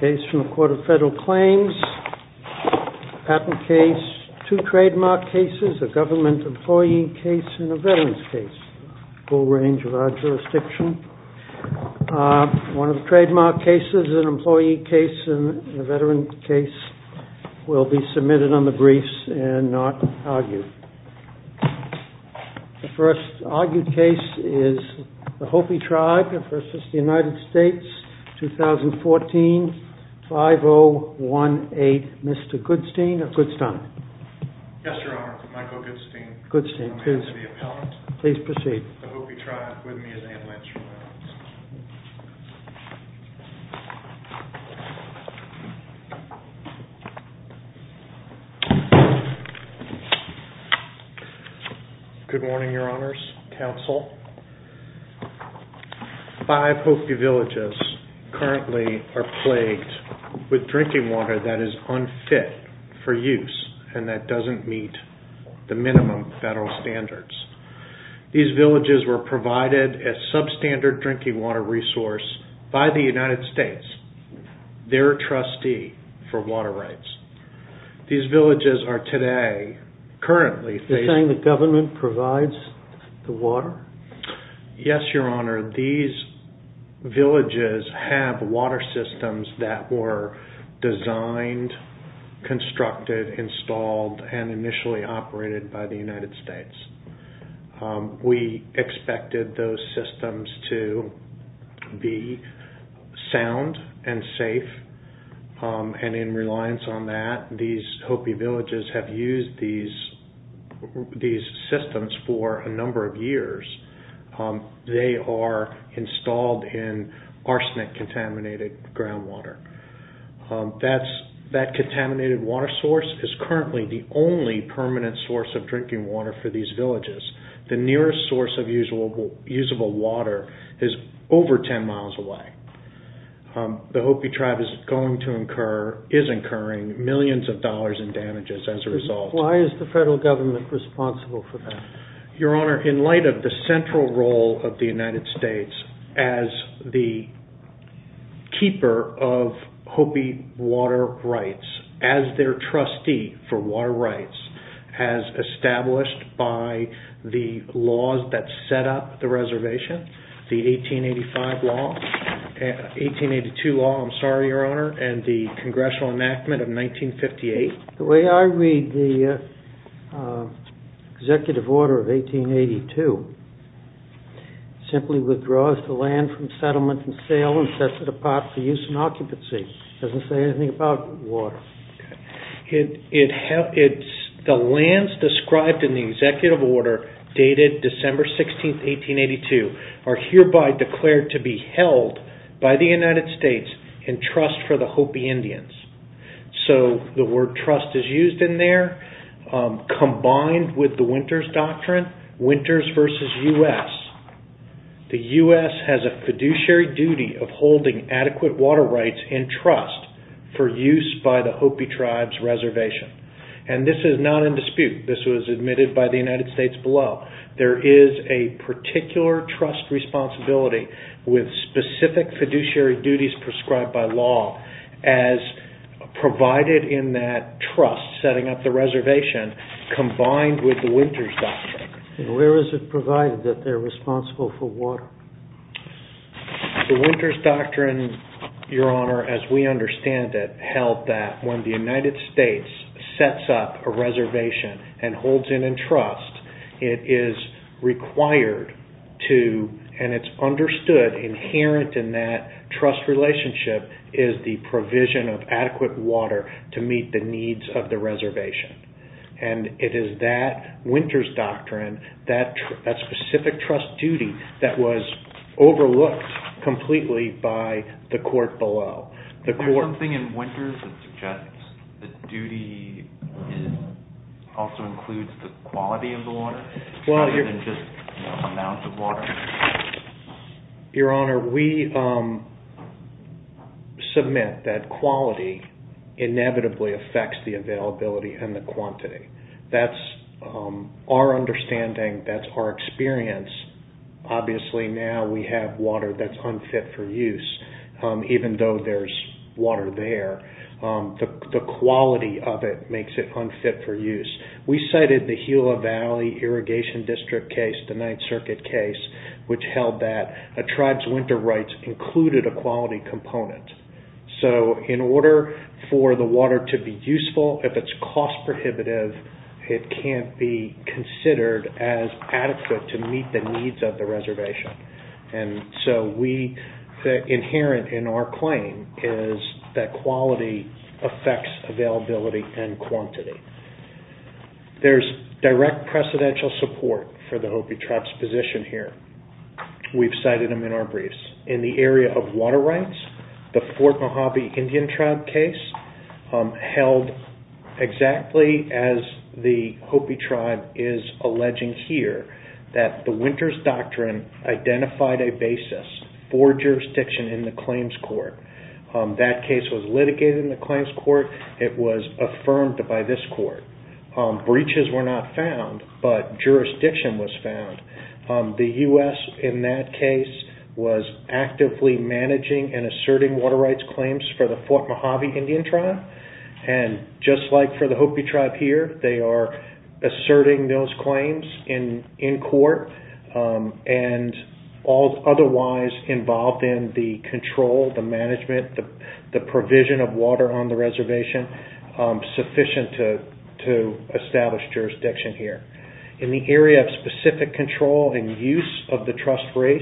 Case from the Court of Federal Claims, patent case, two trademark cases, a government employee case and a veteran's case, full range of our jurisdiction. One of the trademark cases, an employee case and a veteran case will be submitted on the briefs and not argued. The first argued case is the Hopi Tribe v. United States, 2014, 5018, Mr. Goodstein of Goodstein. Yes, Your Honor. Michael Goodstein. Goodstein, please. I'm here to be appellant. Please proceed. The Hopi Tribe, with me is Anne Lynch. Good morning, Your Honors, Counsel. Five Hopi villages currently are plagued with drinking water that is unfit for use and that doesn't meet the minimum federal standards. These villages were provided a substandard drinking water resource by the United States, their trustee for water rights. These villages are today, currently... You're saying the government provides the water? Yes, Your Honor. These villages have water systems that were designed, constructed, installed and initially operated by the United States. We expected those systems to be sound and safe and in reliance on that, these Hopi villages have used these systems for a number of years. They are installed in arsenic contaminated groundwater. That contaminated water source is currently the only permanent source of drinking water for these villages. The nearest source of usable water is over 10 miles away. The Hopi Tribe is incurring millions of dollars in damages as a result. Why is the federal government responsible for that? Your Honor, in light of the central role of the United States as the keeper of Hopi water rights, as their trustee for water rights, as established by the laws that set up the reservation, the 1885 law, 1882 law, I'm sorry Your Honor, and the congressional enactment of 1958. The way I read the executive order of 1882, simply withdraws the land from settlement and sale and sets it apart for use in occupancy, doesn't say anything about water. The lands described in the executive order dated December 16, 1882 are hereby declared to be held by the United States in trust for the Hopi Indians. So, the word trust is used in there, combined with the Winters Doctrine, Winters versus U.S., the U.S. has a fiduciary duty of holding adequate water rights in trust for use by the Hopi Tribe's reservation. This is not in dispute. This was admitted by the United States below. There is a particular trust responsibility with specific fiduciary duties prescribed by law, as provided in that trust, setting up the reservation, combined with the Winters Doctrine. Where is it provided that they're responsible for water? The Winters Doctrine, Your Honor, as we understand it, held that when the United States sets up a reservation and holds it in trust, it is required to, and it's understood inherent in that trust relationship, is the provision of adequate water to meet the needs of the reservation. And it is that Winters Doctrine, that specific trust duty, that was overlooked completely by the court below. The court- Is there something in Winters that suggests the duty also includes the quality of the water, rather than just amounts of water? Your Honor, we submit that quality inevitably affects the availability and the quantity. That's our understanding. That's our experience. Obviously, now we have water that's unfit for use, even though there's water there. The quality of it makes it unfit for use. We cited the Gila Valley Irrigation District case, the Ninth Circuit case, which held that a tribe's winter rights included a quality component. So in order for the water to be useful, if it's cost prohibitive, it can't be considered as adequate to meet the needs of the reservation. And so we, inherent in our claim, is that quality affects availability and quantity. There's direct precedential support for the Hopi tribe's position here. We've cited them in our briefs. In the area of water rights, the Fort Mojave Indian Tribe case, held exactly as the Hopi tribe, identified a basis for jurisdiction in the claims court. That case was litigated in the claims court. It was affirmed by this court. Breaches were not found, but jurisdiction was found. The U.S., in that case, was actively managing and asserting water rights claims for the Fort Mojave Indian Tribe. And just like for the Hopi tribe here, they are asserting those claims in court. And all otherwise involved in the control, the management, the provision of water on the reservation, sufficient to establish jurisdiction here. In the area of specific control and use of the trust race,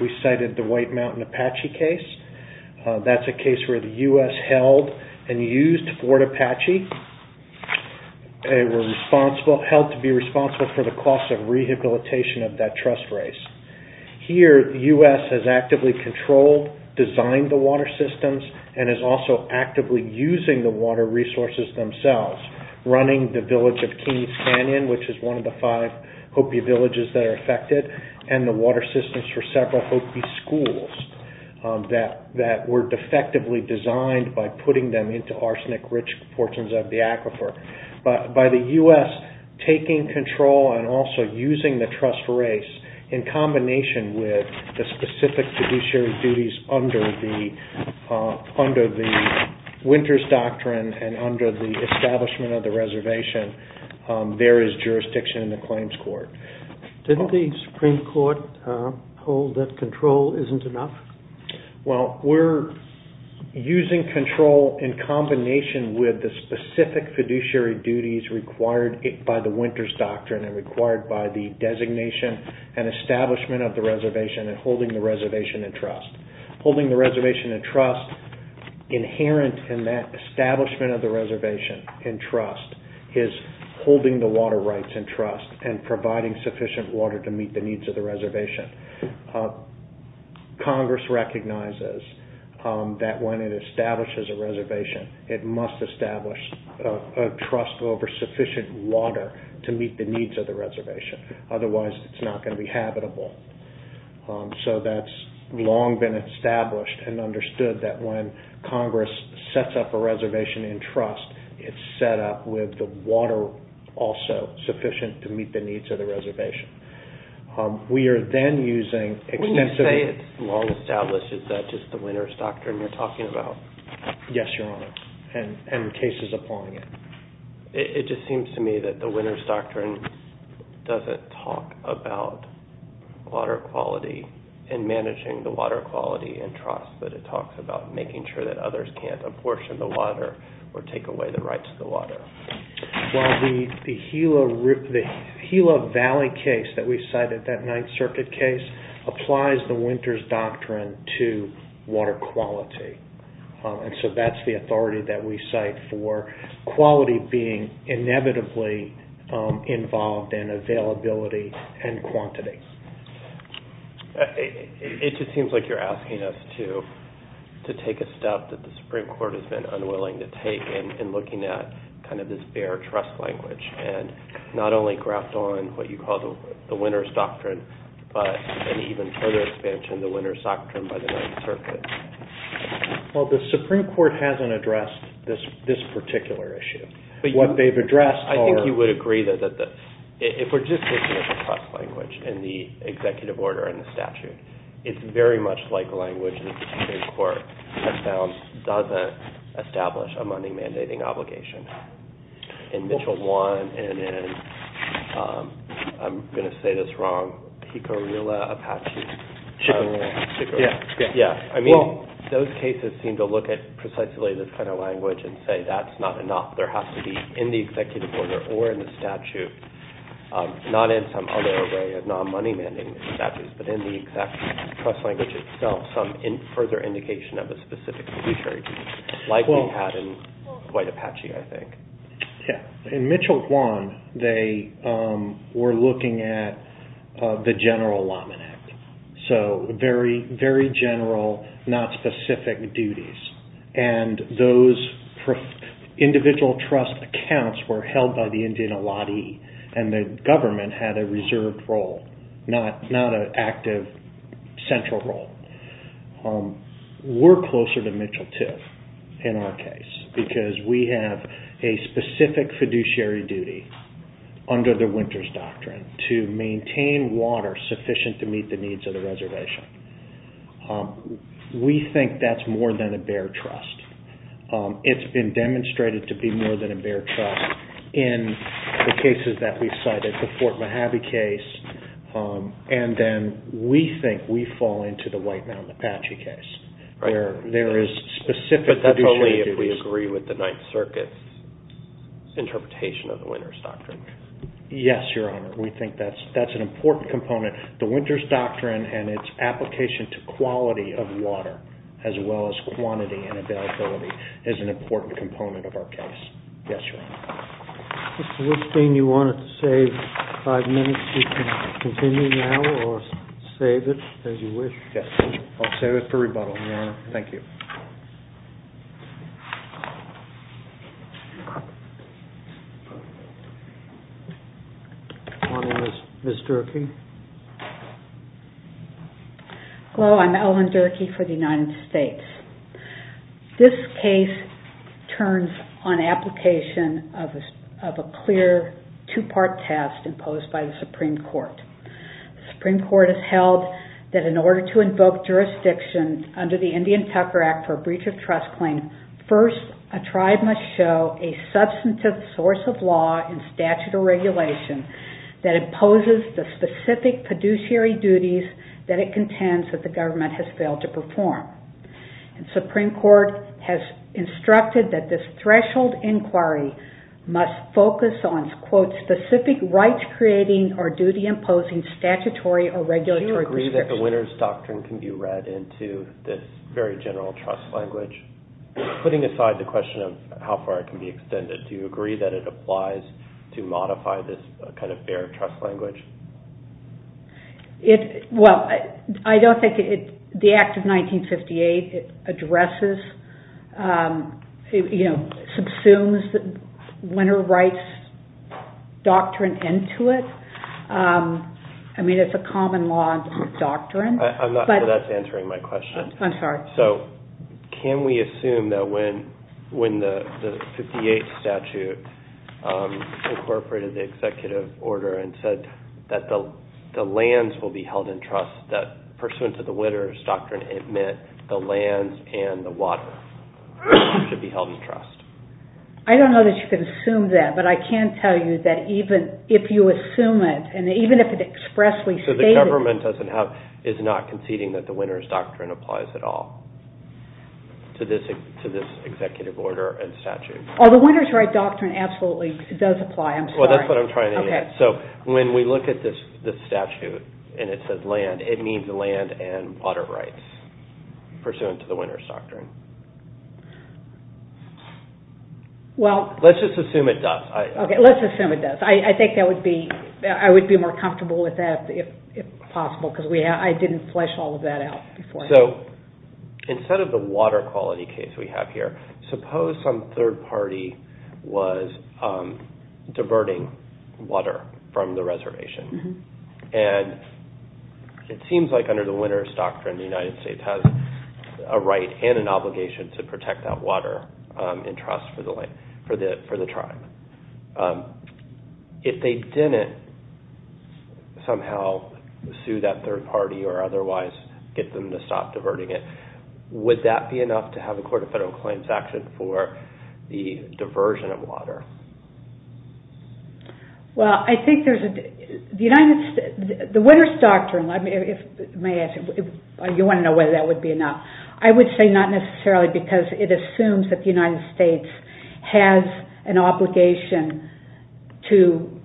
we cited the White Mountain Apache case. That's a case where the U.S. held and used Fort Apache. They were held to be responsible for the cost of rehabilitation of that trust race. Here the U.S. has actively controlled, designed the water systems, and is also actively using the water resources themselves, running the village of King's Canyon, which is one of the five Hopi villages that are affected, and the water systems for several Hopi schools that were defectively designed by putting them into arsenic-rich portions of the aquifer. By the U.S. taking control and also using the trust race in combination with the specific fiduciary duties under the Winters Doctrine and under the establishment of the reservation, there is jurisdiction in the claims court. Didn't the Supreme Court hold that control isn't enough? Well, we're using control in combination with the specific fiduciary duties required by the Winters Doctrine and required by the designation and establishment of the reservation and holding the reservation in trust. Holding the reservation in trust, inherent in that establishment of the reservation in trust, is holding the water rights in trust and providing sufficient water to meet the needs of the reservation. Congress recognizes that when it establishes a reservation, it must establish a trust over sufficient water to meet the needs of the reservation, otherwise it's not going to be habitable. So that's long been established and understood that when Congress sets up a reservation in the U.S., it's set up with the water also sufficient to meet the needs of the reservation. We are then using extensive... When you say it's long established, is that just the Winters Doctrine you're talking about? Yes, Your Honor, and cases appalling it. It just seems to me that the Winters Doctrine doesn't talk about water quality and managing the water quality in trust, but it talks about making sure that others can't abortion the water or take away the rights of the water. Well, the Gila Valley case that we cited, that Ninth Circuit case, applies the Winters Doctrine to water quality, and so that's the authority that we cite for quality being inevitably involved in availability and quantity. It just seems like you're asking us to take a step that the Supreme Court has been unwilling to take in looking at this bare trust language and not only graft on what you call the Winters Doctrine, but an even further expansion of the Winters Doctrine by the Ninth Circuit. Well, the Supreme Court hasn't addressed this particular issue. What they've addressed are... ...the executive order and the statute. It's very much like language that the Supreme Court has found doesn't establish a money mandating obligation. In Mitchell 1 and in, I'm going to say this wrong, Pico-Rilla-Apache... Chipping Rule. Yeah, I mean, those cases seem to look at precisely this kind of language and say that's not enough. There has to be in the executive order or in the statute, not in some other way of not money mandating statutes, but in the exact trust language itself, some further indication of a specific fiduciary duty like you had in Dwight-Apache, I think. Yeah. In Mitchell 1, they were looking at the general laminate, so very general, not specific duties. Those individual trust accounts were held by the Indian Allottee and the government had a reserved role, not an active central role. We're closer to Mitchell 2 in our case because we have a specific fiduciary duty under the Winters Doctrine to maintain water sufficient to meet the needs of the reservation. We think that's more than a bare trust. It's been demonstrated to be more than a bare trust in the cases that we've cited like the Fort Mojave case, and then we think we fall into the White Mound-Apache case. There is specific fiduciary duties. But that's only if we agree with the Ninth Circuit's interpretation of the Winters Doctrine. Yes, Your Honor. We think that's an important component. The Winters Doctrine and its application to quality of water as well as quantity and availability is an important component of our case. Yes, Your Honor. Mr. Woodstein, you wanted to save five minutes. You can continue now or save it as you wish. Yes, I'll save it for rebuttal, Your Honor. Thank you. Ms. Durkee. Hello, I'm Ellen Durkee for the United States. This case turns on application of a clear two-part test imposed by the Supreme Court. The Supreme Court has held that in order to invoke jurisdiction under the Indian Tucker Act for a breach of trust claim, first a tribe must show a substantive source of law and statute or regulation that imposes the specific fiduciary duties that it contends that the government has failed to perform. The Supreme Court has instructed that this threshold inquiry must focus on quote, specific rights creating or duty imposing statutory or regulatory discretion. Do you agree that the Winters Doctrine can be read into this very general trust language? Putting aside the question of how far it can be extended, do you agree that it applies to modify this kind of fair trust language? Well, I don't think the Act of 1958 addresses, you know, subsumes the Winter Rights Doctrine into it. I mean, it's a common law doctrine. I'm not sure that's answering my question. I'm sorry. So, can we assume that when the 58th statute incorporated the executive order and said that the lands will be held in trust, that pursuant to the Winters Doctrine, it meant the lands and the water should be held in trust? I don't know that you can assume that, but I can tell you that even if you assume it, and even if it expressly stated... So, the government doesn't have, is not conceding that the Winters Doctrine applies at all to this executive order and statute? I'm sorry. That's what I'm trying to get at. So, when we look at this statute and it says land, it means land and water rights pursuant to the Winters Doctrine. Well... Let's just assume it does. Okay, let's assume it does. I think I would be more comfortable with that if possible, because I didn't flesh all of that out before. So, instead of the water quality case we have here, suppose some third party was diverting water from the reservation, and it seems like under the Winters Doctrine, the United States has a right and an obligation to protect that water in trust for the tribe. If they didn't somehow sue that third party or otherwise get them to stop diverting it, would that be enough to have the Court of Federal Claims action for the diversion of water? Well, I think there's a... The United... The Winters Doctrine... I mean, if... May I ask you... You want to know whether that would be enough? I would say not necessarily, because it assumes that the United States has an obligation to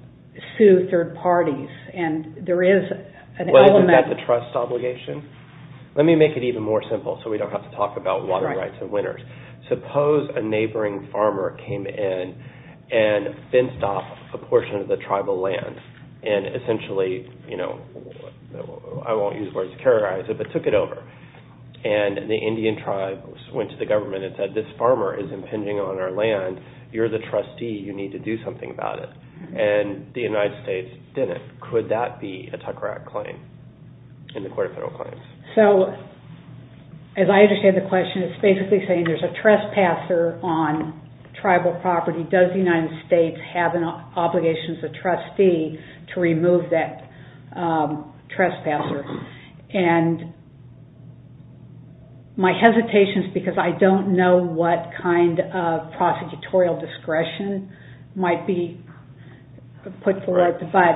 sue third parties, and there is an element... Well, isn't that the trust obligation? Let me make it even more simple, so we don't have to talk about water rights and winters. Suppose a neighboring farmer came in and fenced off a portion of the tribal land, and essentially, you know, I won't use words to characterize it, but took it over, and the Indian tribe went to the government and said, this farmer is impinging on our land, you're the trustee, you need to do something about it. And the United States didn't. Could that be a Tucker Act claim in the Court of Federal Claims? So, as I understand the question, it's basically saying there's a trespasser on tribal property, does the United States have an obligation as a trustee to remove that trespasser? And my hesitation is because I don't know what kind of prosecutorial discretion might be put forward, but...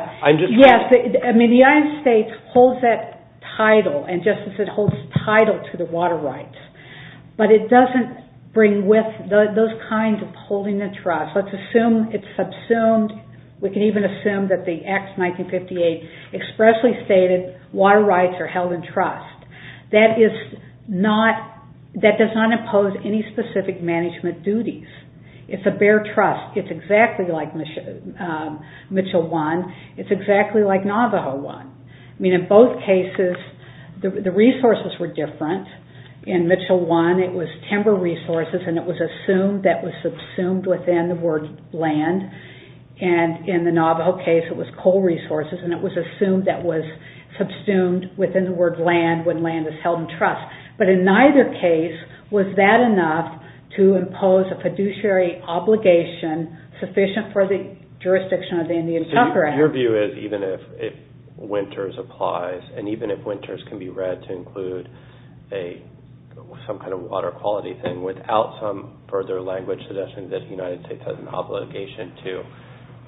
Yes, I mean, the United States holds that title, and just as it holds title to the water rights, but it doesn't bring with those kinds of holding the trust. Let's assume it's subsumed, we can even assume that the Act of 1958 expressly stated water rights are held in trust. That is not... That does not impose any specific management duties. It's a bare trust. It's exactly like Mitchell 1. It's exactly like Navajo 1. I mean, in both cases, the resources were different. In Mitchell 1, it was timber resources, and it was assumed that was subsumed within the word land. And in the Navajo case, it was coal resources, and it was assumed that was subsumed within the word land when land is held in trust. But in neither case was that enough to impose a fiduciary obligation sufficient for the jurisdiction of the Indian Tucker Act. So your view is even if winters applies, and even if winters can be read to include some kind of water quality thing, without some further language suggestion that the United States has an obligation to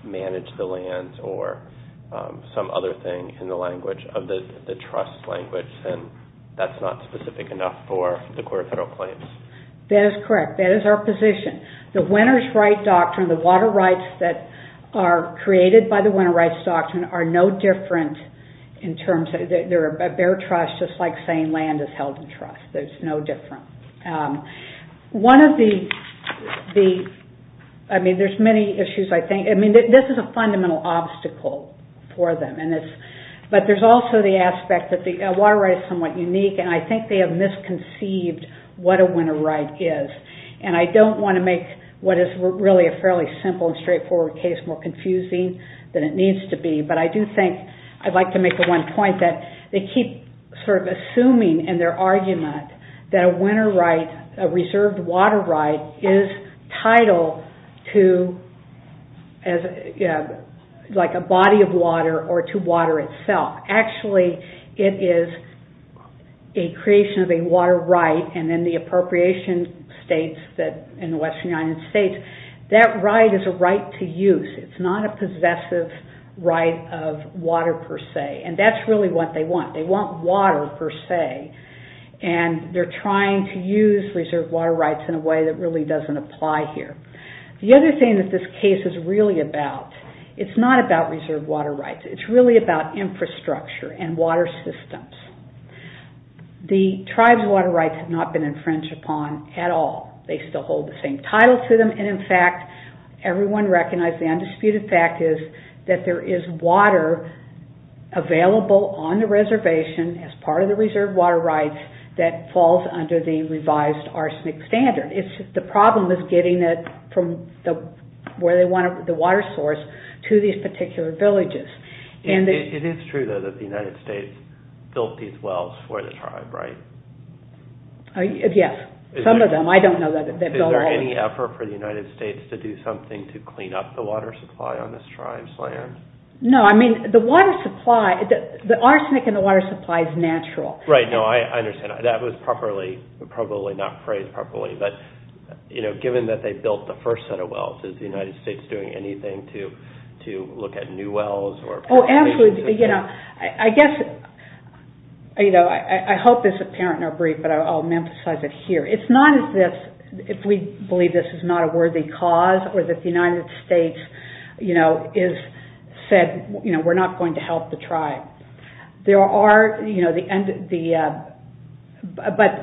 manage the lands or some other thing in the language of the trust language, then that's not specific enough for the core federal claims. That is correct. That is our position. The winner's right doctrine, the water rights that are created by the winner's rights doctrine are no different in terms of, they're a bare trust just like saying land is held in trust. There's no difference. I mean, there's many issues, I think. This is a fundamental obstacle for them. But there's also the aspect that the water right is somewhat unique, and I think they have misconceived what a winner's right is. And I don't want to make what is really a fairly simple and straightforward case more confusing than it needs to be. But I do think I'd like to make the one point that they keep sort of assuming in their argument that a winner's right, a reserved water right, is title to like a body of water or to water itself. Actually, it is a creation of a water right, and then the appropriation states in the Western United States, that right is a right to use. It's not a possessive right of water, per se. And that's really what they want. They want water, per se. And they're trying to use reserved water rights in a way that really doesn't apply here. The other thing that this case is really about, it's not about reserved water rights. It's really about infrastructure and water systems. The tribes' water rights have not been infringed upon at all. They still hold the same title to them. And in fact, everyone recognizes the undisputed fact is that there is water available on the reservation as part of the reserved water rights that falls under the revised arsenic standard. The problem is getting it from where they want it, the water source, to these particular villages. It is true, though, that the United States built these wells for the tribe, right? Yes, some of them. I don't know that they built all of them. Is there any effort for the United States to do something to clean up the water supply on this tribe's land? No, I mean, the arsenic in the water supply is natural. Right, no, I understand. That was probably not phrased properly. But given that they built the first set of wells, is the United States doing anything to look at new wells, Oh, absolutely. I hope this is apparent in our brief, but I'll emphasize it here. It's not as if we believe this is not a worthy cause, or that the United States has said, we're not going to help the tribe. But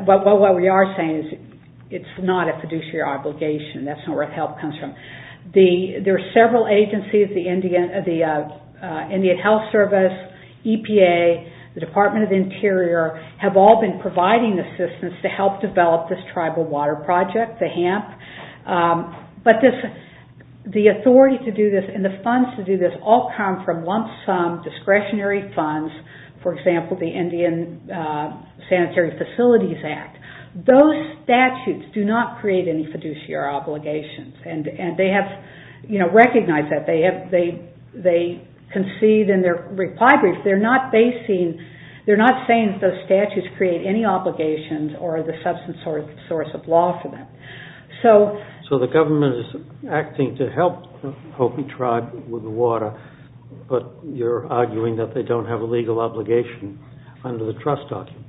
what we are saying is it's not a fiduciary obligation. That's not where the help comes from. There are several agencies, the Indian Health Service, EPA, the Department of the Interior, have all been providing assistance to help develop this tribal water project, the HAMP. The authority to do this and the funds to do this all come from lump sum discretionary funds, for example, the Indian Sanitary Facilities Act. Those statutes do not create any fiduciary obligations. And they have recognized that. They concede in their reply brief. They're not basing, they're not saying that those statutes create any obligations or the substance or source of law for them. So the government is acting to help Hopi tribe with the water, but you're arguing that they don't have a legal obligation under the trust documents.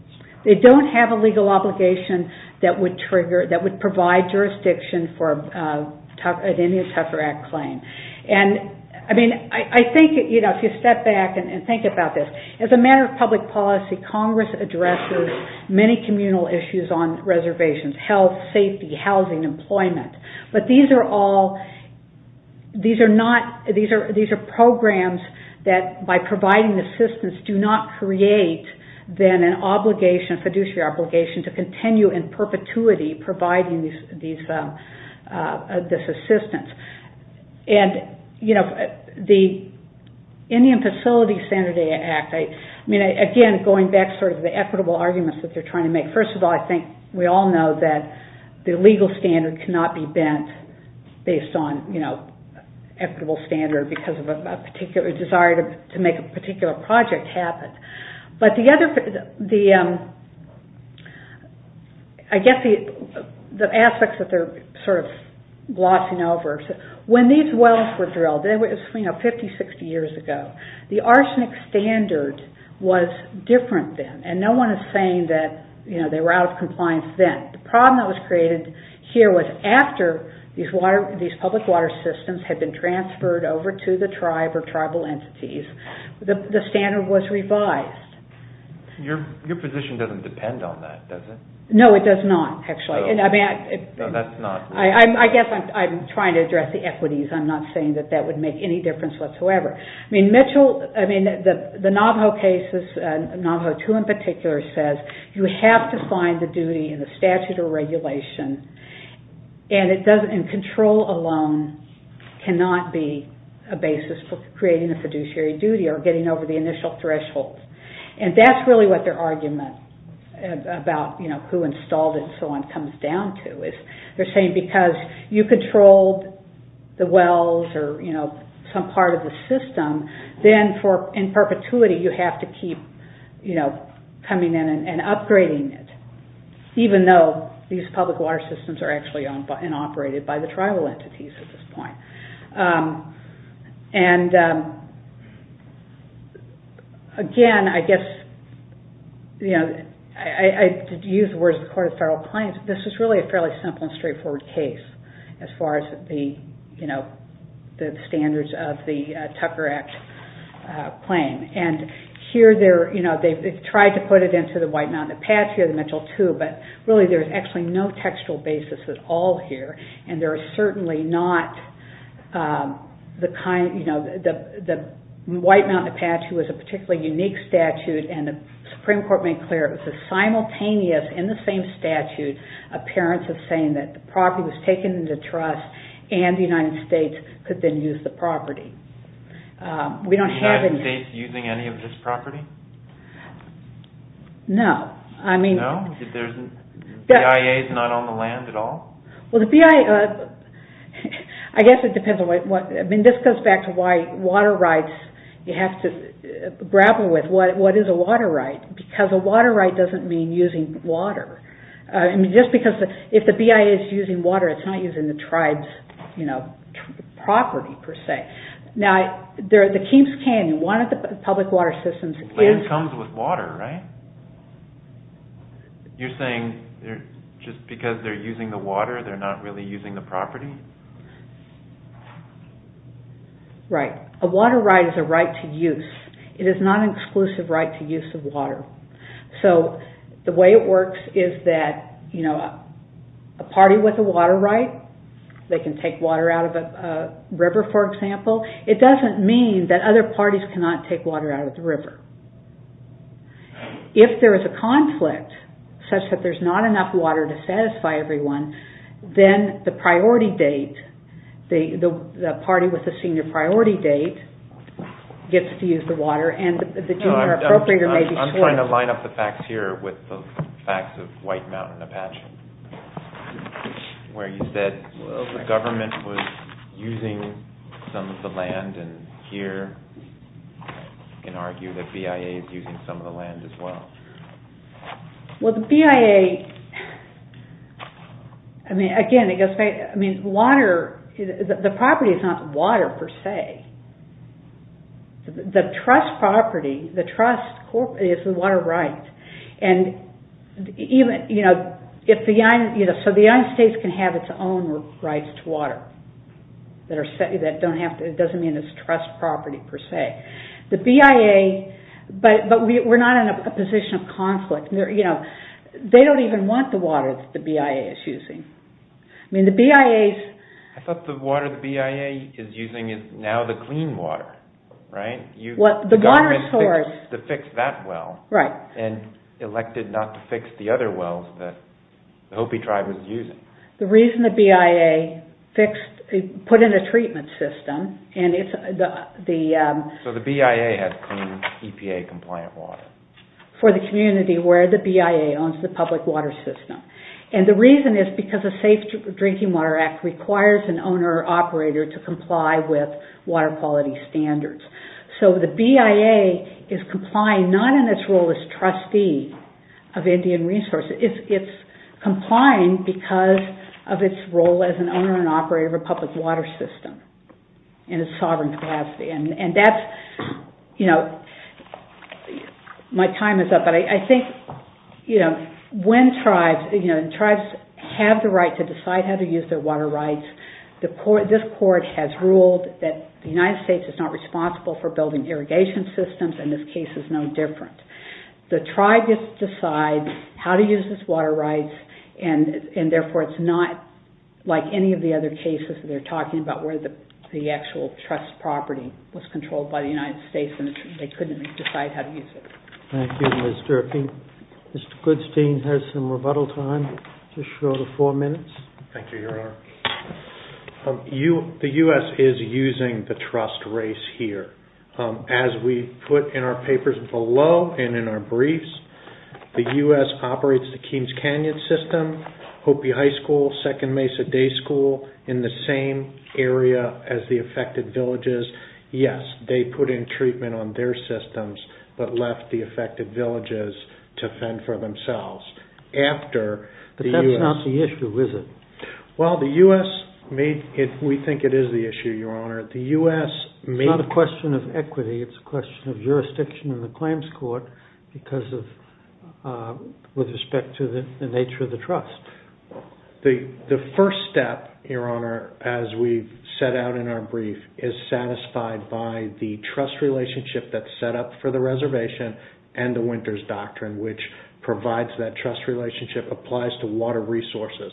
They don't have a legal obligation that would trigger, that would provide jurisdiction for an Indian Tuffer Act claim. I think if you step back and think about this, as a matter of public policy, Congress addresses many communal issues on reservations, health, safety, housing, employment. But these are all, these are programs that by providing assistance do not create then an obligation, a fiduciary obligation to continue in perpetuity providing this assistance. And, you know, the Indian Facilities Sanitary Act, I mean, again, going back to sort of the equitable arguments that they're trying to make. First of all, I think we all know that the legal standard cannot be bent based on, you know, equitable standard because of a particular desire to make a particular project happen. But the other, I guess the aspects that they're sort of glossing over, when these wells were drilled, it was, you know, 50, 60 years ago, the arsenic standard was different then. And no one is saying that, you know, they were out of compliance then. The problem that was created here was after these water, tribal entities, the standard was revised. Your position doesn't depend on that, does it? No, it does not, actually. No, that's not. I guess I'm trying to address the equities. I'm not saying that that would make any difference whatsoever. I mean, Mitchell, I mean, the Navajo cases, Navajo II in particular says, you have to find the duty and the statute of regulation and it doesn't, and control alone cannot be a basis for creating a fiduciary duty or getting over the initial threshold. And that's really what their argument about, you know, who installed it and so on comes down to, is they're saying because you controlled the wells or, you know, some part of the system, then for, in perpetuity, you have to keep, you know, coming in and upgrading it, even though these public water systems are actually owned and operated by the tribal entities at this point. And, again, I guess, you know, I did use the words of the Court of Federal Claims, but this is really a fairly simple and straightforward case as far as the, you know, the standards of the Tucker Act claim. And here they're, you know, they've tried to put it into the White Mountain Apache or the Mitchell II, but really there's actually no textual basis at all here and there are certainly not the kind, you know, the White Mountain Apache was a particularly unique statute and the Supreme Court made clear it was a simultaneous in the same statute appearance of saying that the property was taken into trust and the United States could then use the property. We don't have any... Is the United States using any of this property? No. No? The BIA is not on the land at all? Well, the BIA... I guess it depends on what... I mean, this goes back to why water rights, you have to grapple with what is a water right? Because a water right doesn't mean using water. I mean, just because if the BIA is using water, it's not using the tribe's, you know, property per se. Now, the Keeps Canyon, one of the public water systems... Land comes with water, right? You're saying just because they're using the water, they're not really using the property? Right. A water right is a right to use. It is not an exclusive right to use of water. So, the way it works is that, you know, a party with a water right, they can take water out of a river, for example. It doesn't mean that other parties cannot take water out of the river. If there is a conflict, such that there's not enough water to satisfy everyone, then the priority date, the party with the senior priority date gets to use the water and the junior appropriator may be... I'm trying to line up the facts here with the facts of White Mountain Apache, where you said the government was using some of the land and here you can argue that BIA is using some of the land as well. Well, the BIA... I mean, again, it goes back... I mean, water... The property is not water per se. The trust property, the trust is the water right. So, the United States can have its own rights to water. It doesn't mean it's trust property per se. The BIA... But we're not in a position of conflict, you know. They don't even want the water that the BIA is using. I mean, the BIA... I thought the water the BIA is using is now the clean water, right? The government fixed that well and elected not to fix the other wells that the Hopi tribe was using. The reason the BIA fixed... put in a treatment system and it's the... So, the BIA has clean EPA compliant water? For the community where the BIA owns the public water system. And the reason is because the Safe Drinking Water Act requires an owner or operator to comply with water quality standards. So, the BIA is complying not in its role as trustee of Indian resources. It's complying because of its role as an owner and operator of a public water system in a sovereign class. And that's, you know... My time is up, but I think, you know, when tribes have the right to decide how to use their water rights, this court has ruled that the United States is not responsible for building irrigation systems and this case is no different. The tribe gets to decide how to use its water rights and therefore it's not like any of the other cases that they're talking about where the actual trust property was controlled by the United States and they couldn't decide how to use it. Thank you, Ms. Durfee. Mr. Goodstein has some rebuttal time. Just show the four minutes. Thank you, Your Honor. The U.S. is using the trust race here. As we put in our papers below and in our briefs, the U.S. operates the Keynes Canyon system, Hopi High School, Second Mesa Day School in the same area as the affected villages. Yes, they put in treatment on their systems but left the affected villages to fend for themselves. But that's not the issue, is it? Well, the U.S. made... We think it is the issue, Your Honor. It's not a question of equity. It's a question of jurisdiction in the claims court with respect to the nature of the trust. The first step, Your Honor, as we set out in our brief, is satisfied by the trust relationship that's set up for the reservation and the Winters Doctrine, which provides that trust relationship, applies to water resources.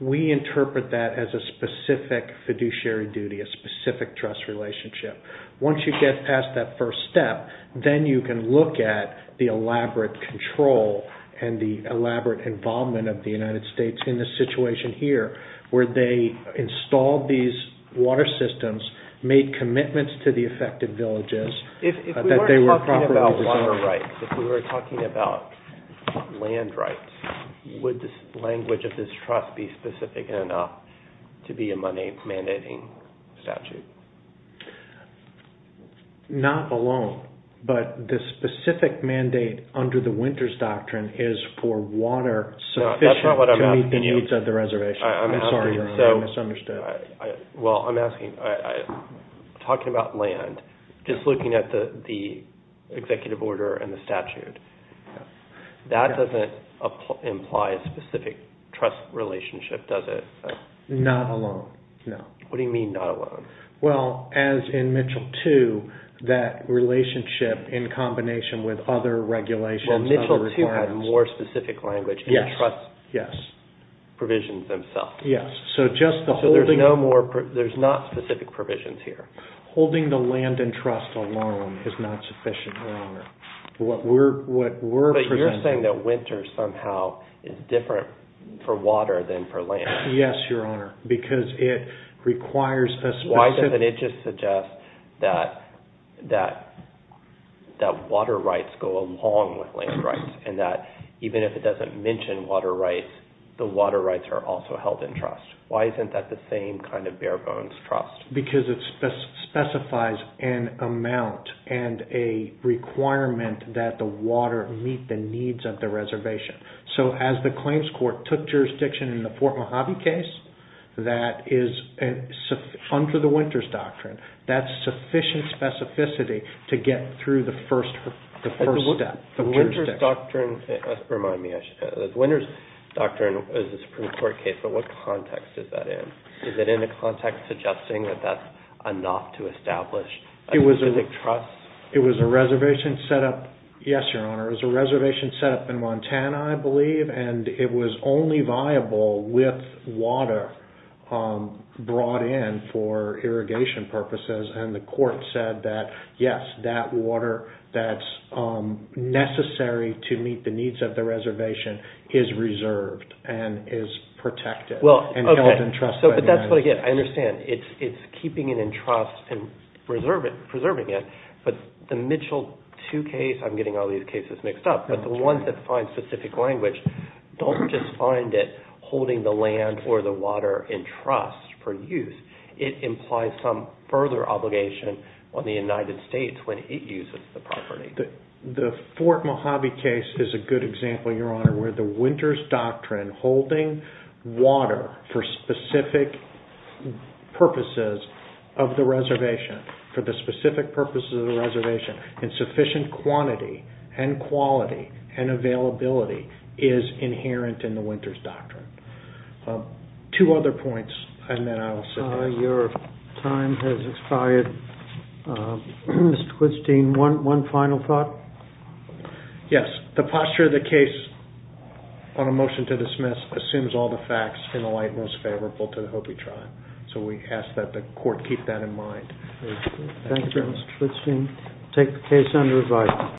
We interpret that as a specific fiduciary duty, a specific trust relationship. Once you get past that first step, then you can look at the elaborate control and the elaborate involvement of the United States in the situation here where they installed these water systems, made commitments to the affected villages... If we were talking about water rights, if we were talking about land rights, would the language of this trust be specific enough to be a mandating statute? Not alone, but the specific mandate under the Winters Doctrine is for water sufficient... That's not what I'm asking you. ...to meet the needs of the reservation. I'm sorry, Your Honor. I misunderstood. Well, I'm asking... Talking about land, just looking at the executive order and the statute, that doesn't imply a specific trust relationship, does it? Not alone, no. What do you mean, not alone? Well, as in Mitchell 2, that relationship in combination with other regulations... Well, Mitchell 2 had more specific language... Yes. ...and trust provisions themselves. Yes, so just the holding... So there's not specific provisions here? Holding the land in trust alone is not sufficient, Your Honor. What we're presenting... But you're saying that winter somehow is different for water than for land. Yes, Your Honor, because it requires a specific... Why doesn't it just suggest that water rights go along with land rights and that even if it doesn't mention water rights, the water rights are also held in trust? Why isn't that the same kind of bare-bones trust? Because it specifies an amount and a requirement that the water meet the needs of the reservation. So as the Claims Court took jurisdiction in the Fort Mojave case, that is under the Winters Doctrine, that's sufficient specificity to get through the first step. The Winters Doctrine, remind me, the Winters Doctrine is a Supreme Court case, but what context is that in? Is it in a context suggesting that that's enough to establish a specific trust? It was a reservation set up, yes, Your Honor, it was a reservation set up in Montana, I believe, and it was only viable with water brought in for irrigation purposes, and the court said that, yes, that water that's necessary to meet the needs of the reservation is reserved and is protected and held in trust. But that's what I get. I understand. It's keeping it in trust and preserving it, but the Mitchell 2 case, I'm getting all these cases mixed up, but the ones that find specific language don't just find it holding the land or the water in trust for use. It implies some further obligation on the United States when it uses the property. The Fort Mojave case is a good example, Your Honor, where the Winters Doctrine holding water for specific purposes of the reservation, for the specific purposes of the reservation, and sufficient quantity and quality and availability is inherent in the Winters Doctrine. Two other points, and then I'll say this. Your time has expired. Mr. Quidstein, one final thought? Yes. The posture of the case on a motion to dismiss assumes all the facts in the light most favorable to the Hopi tribe, so we ask that the court keep that in mind. Thank you, Mr. Quidstein.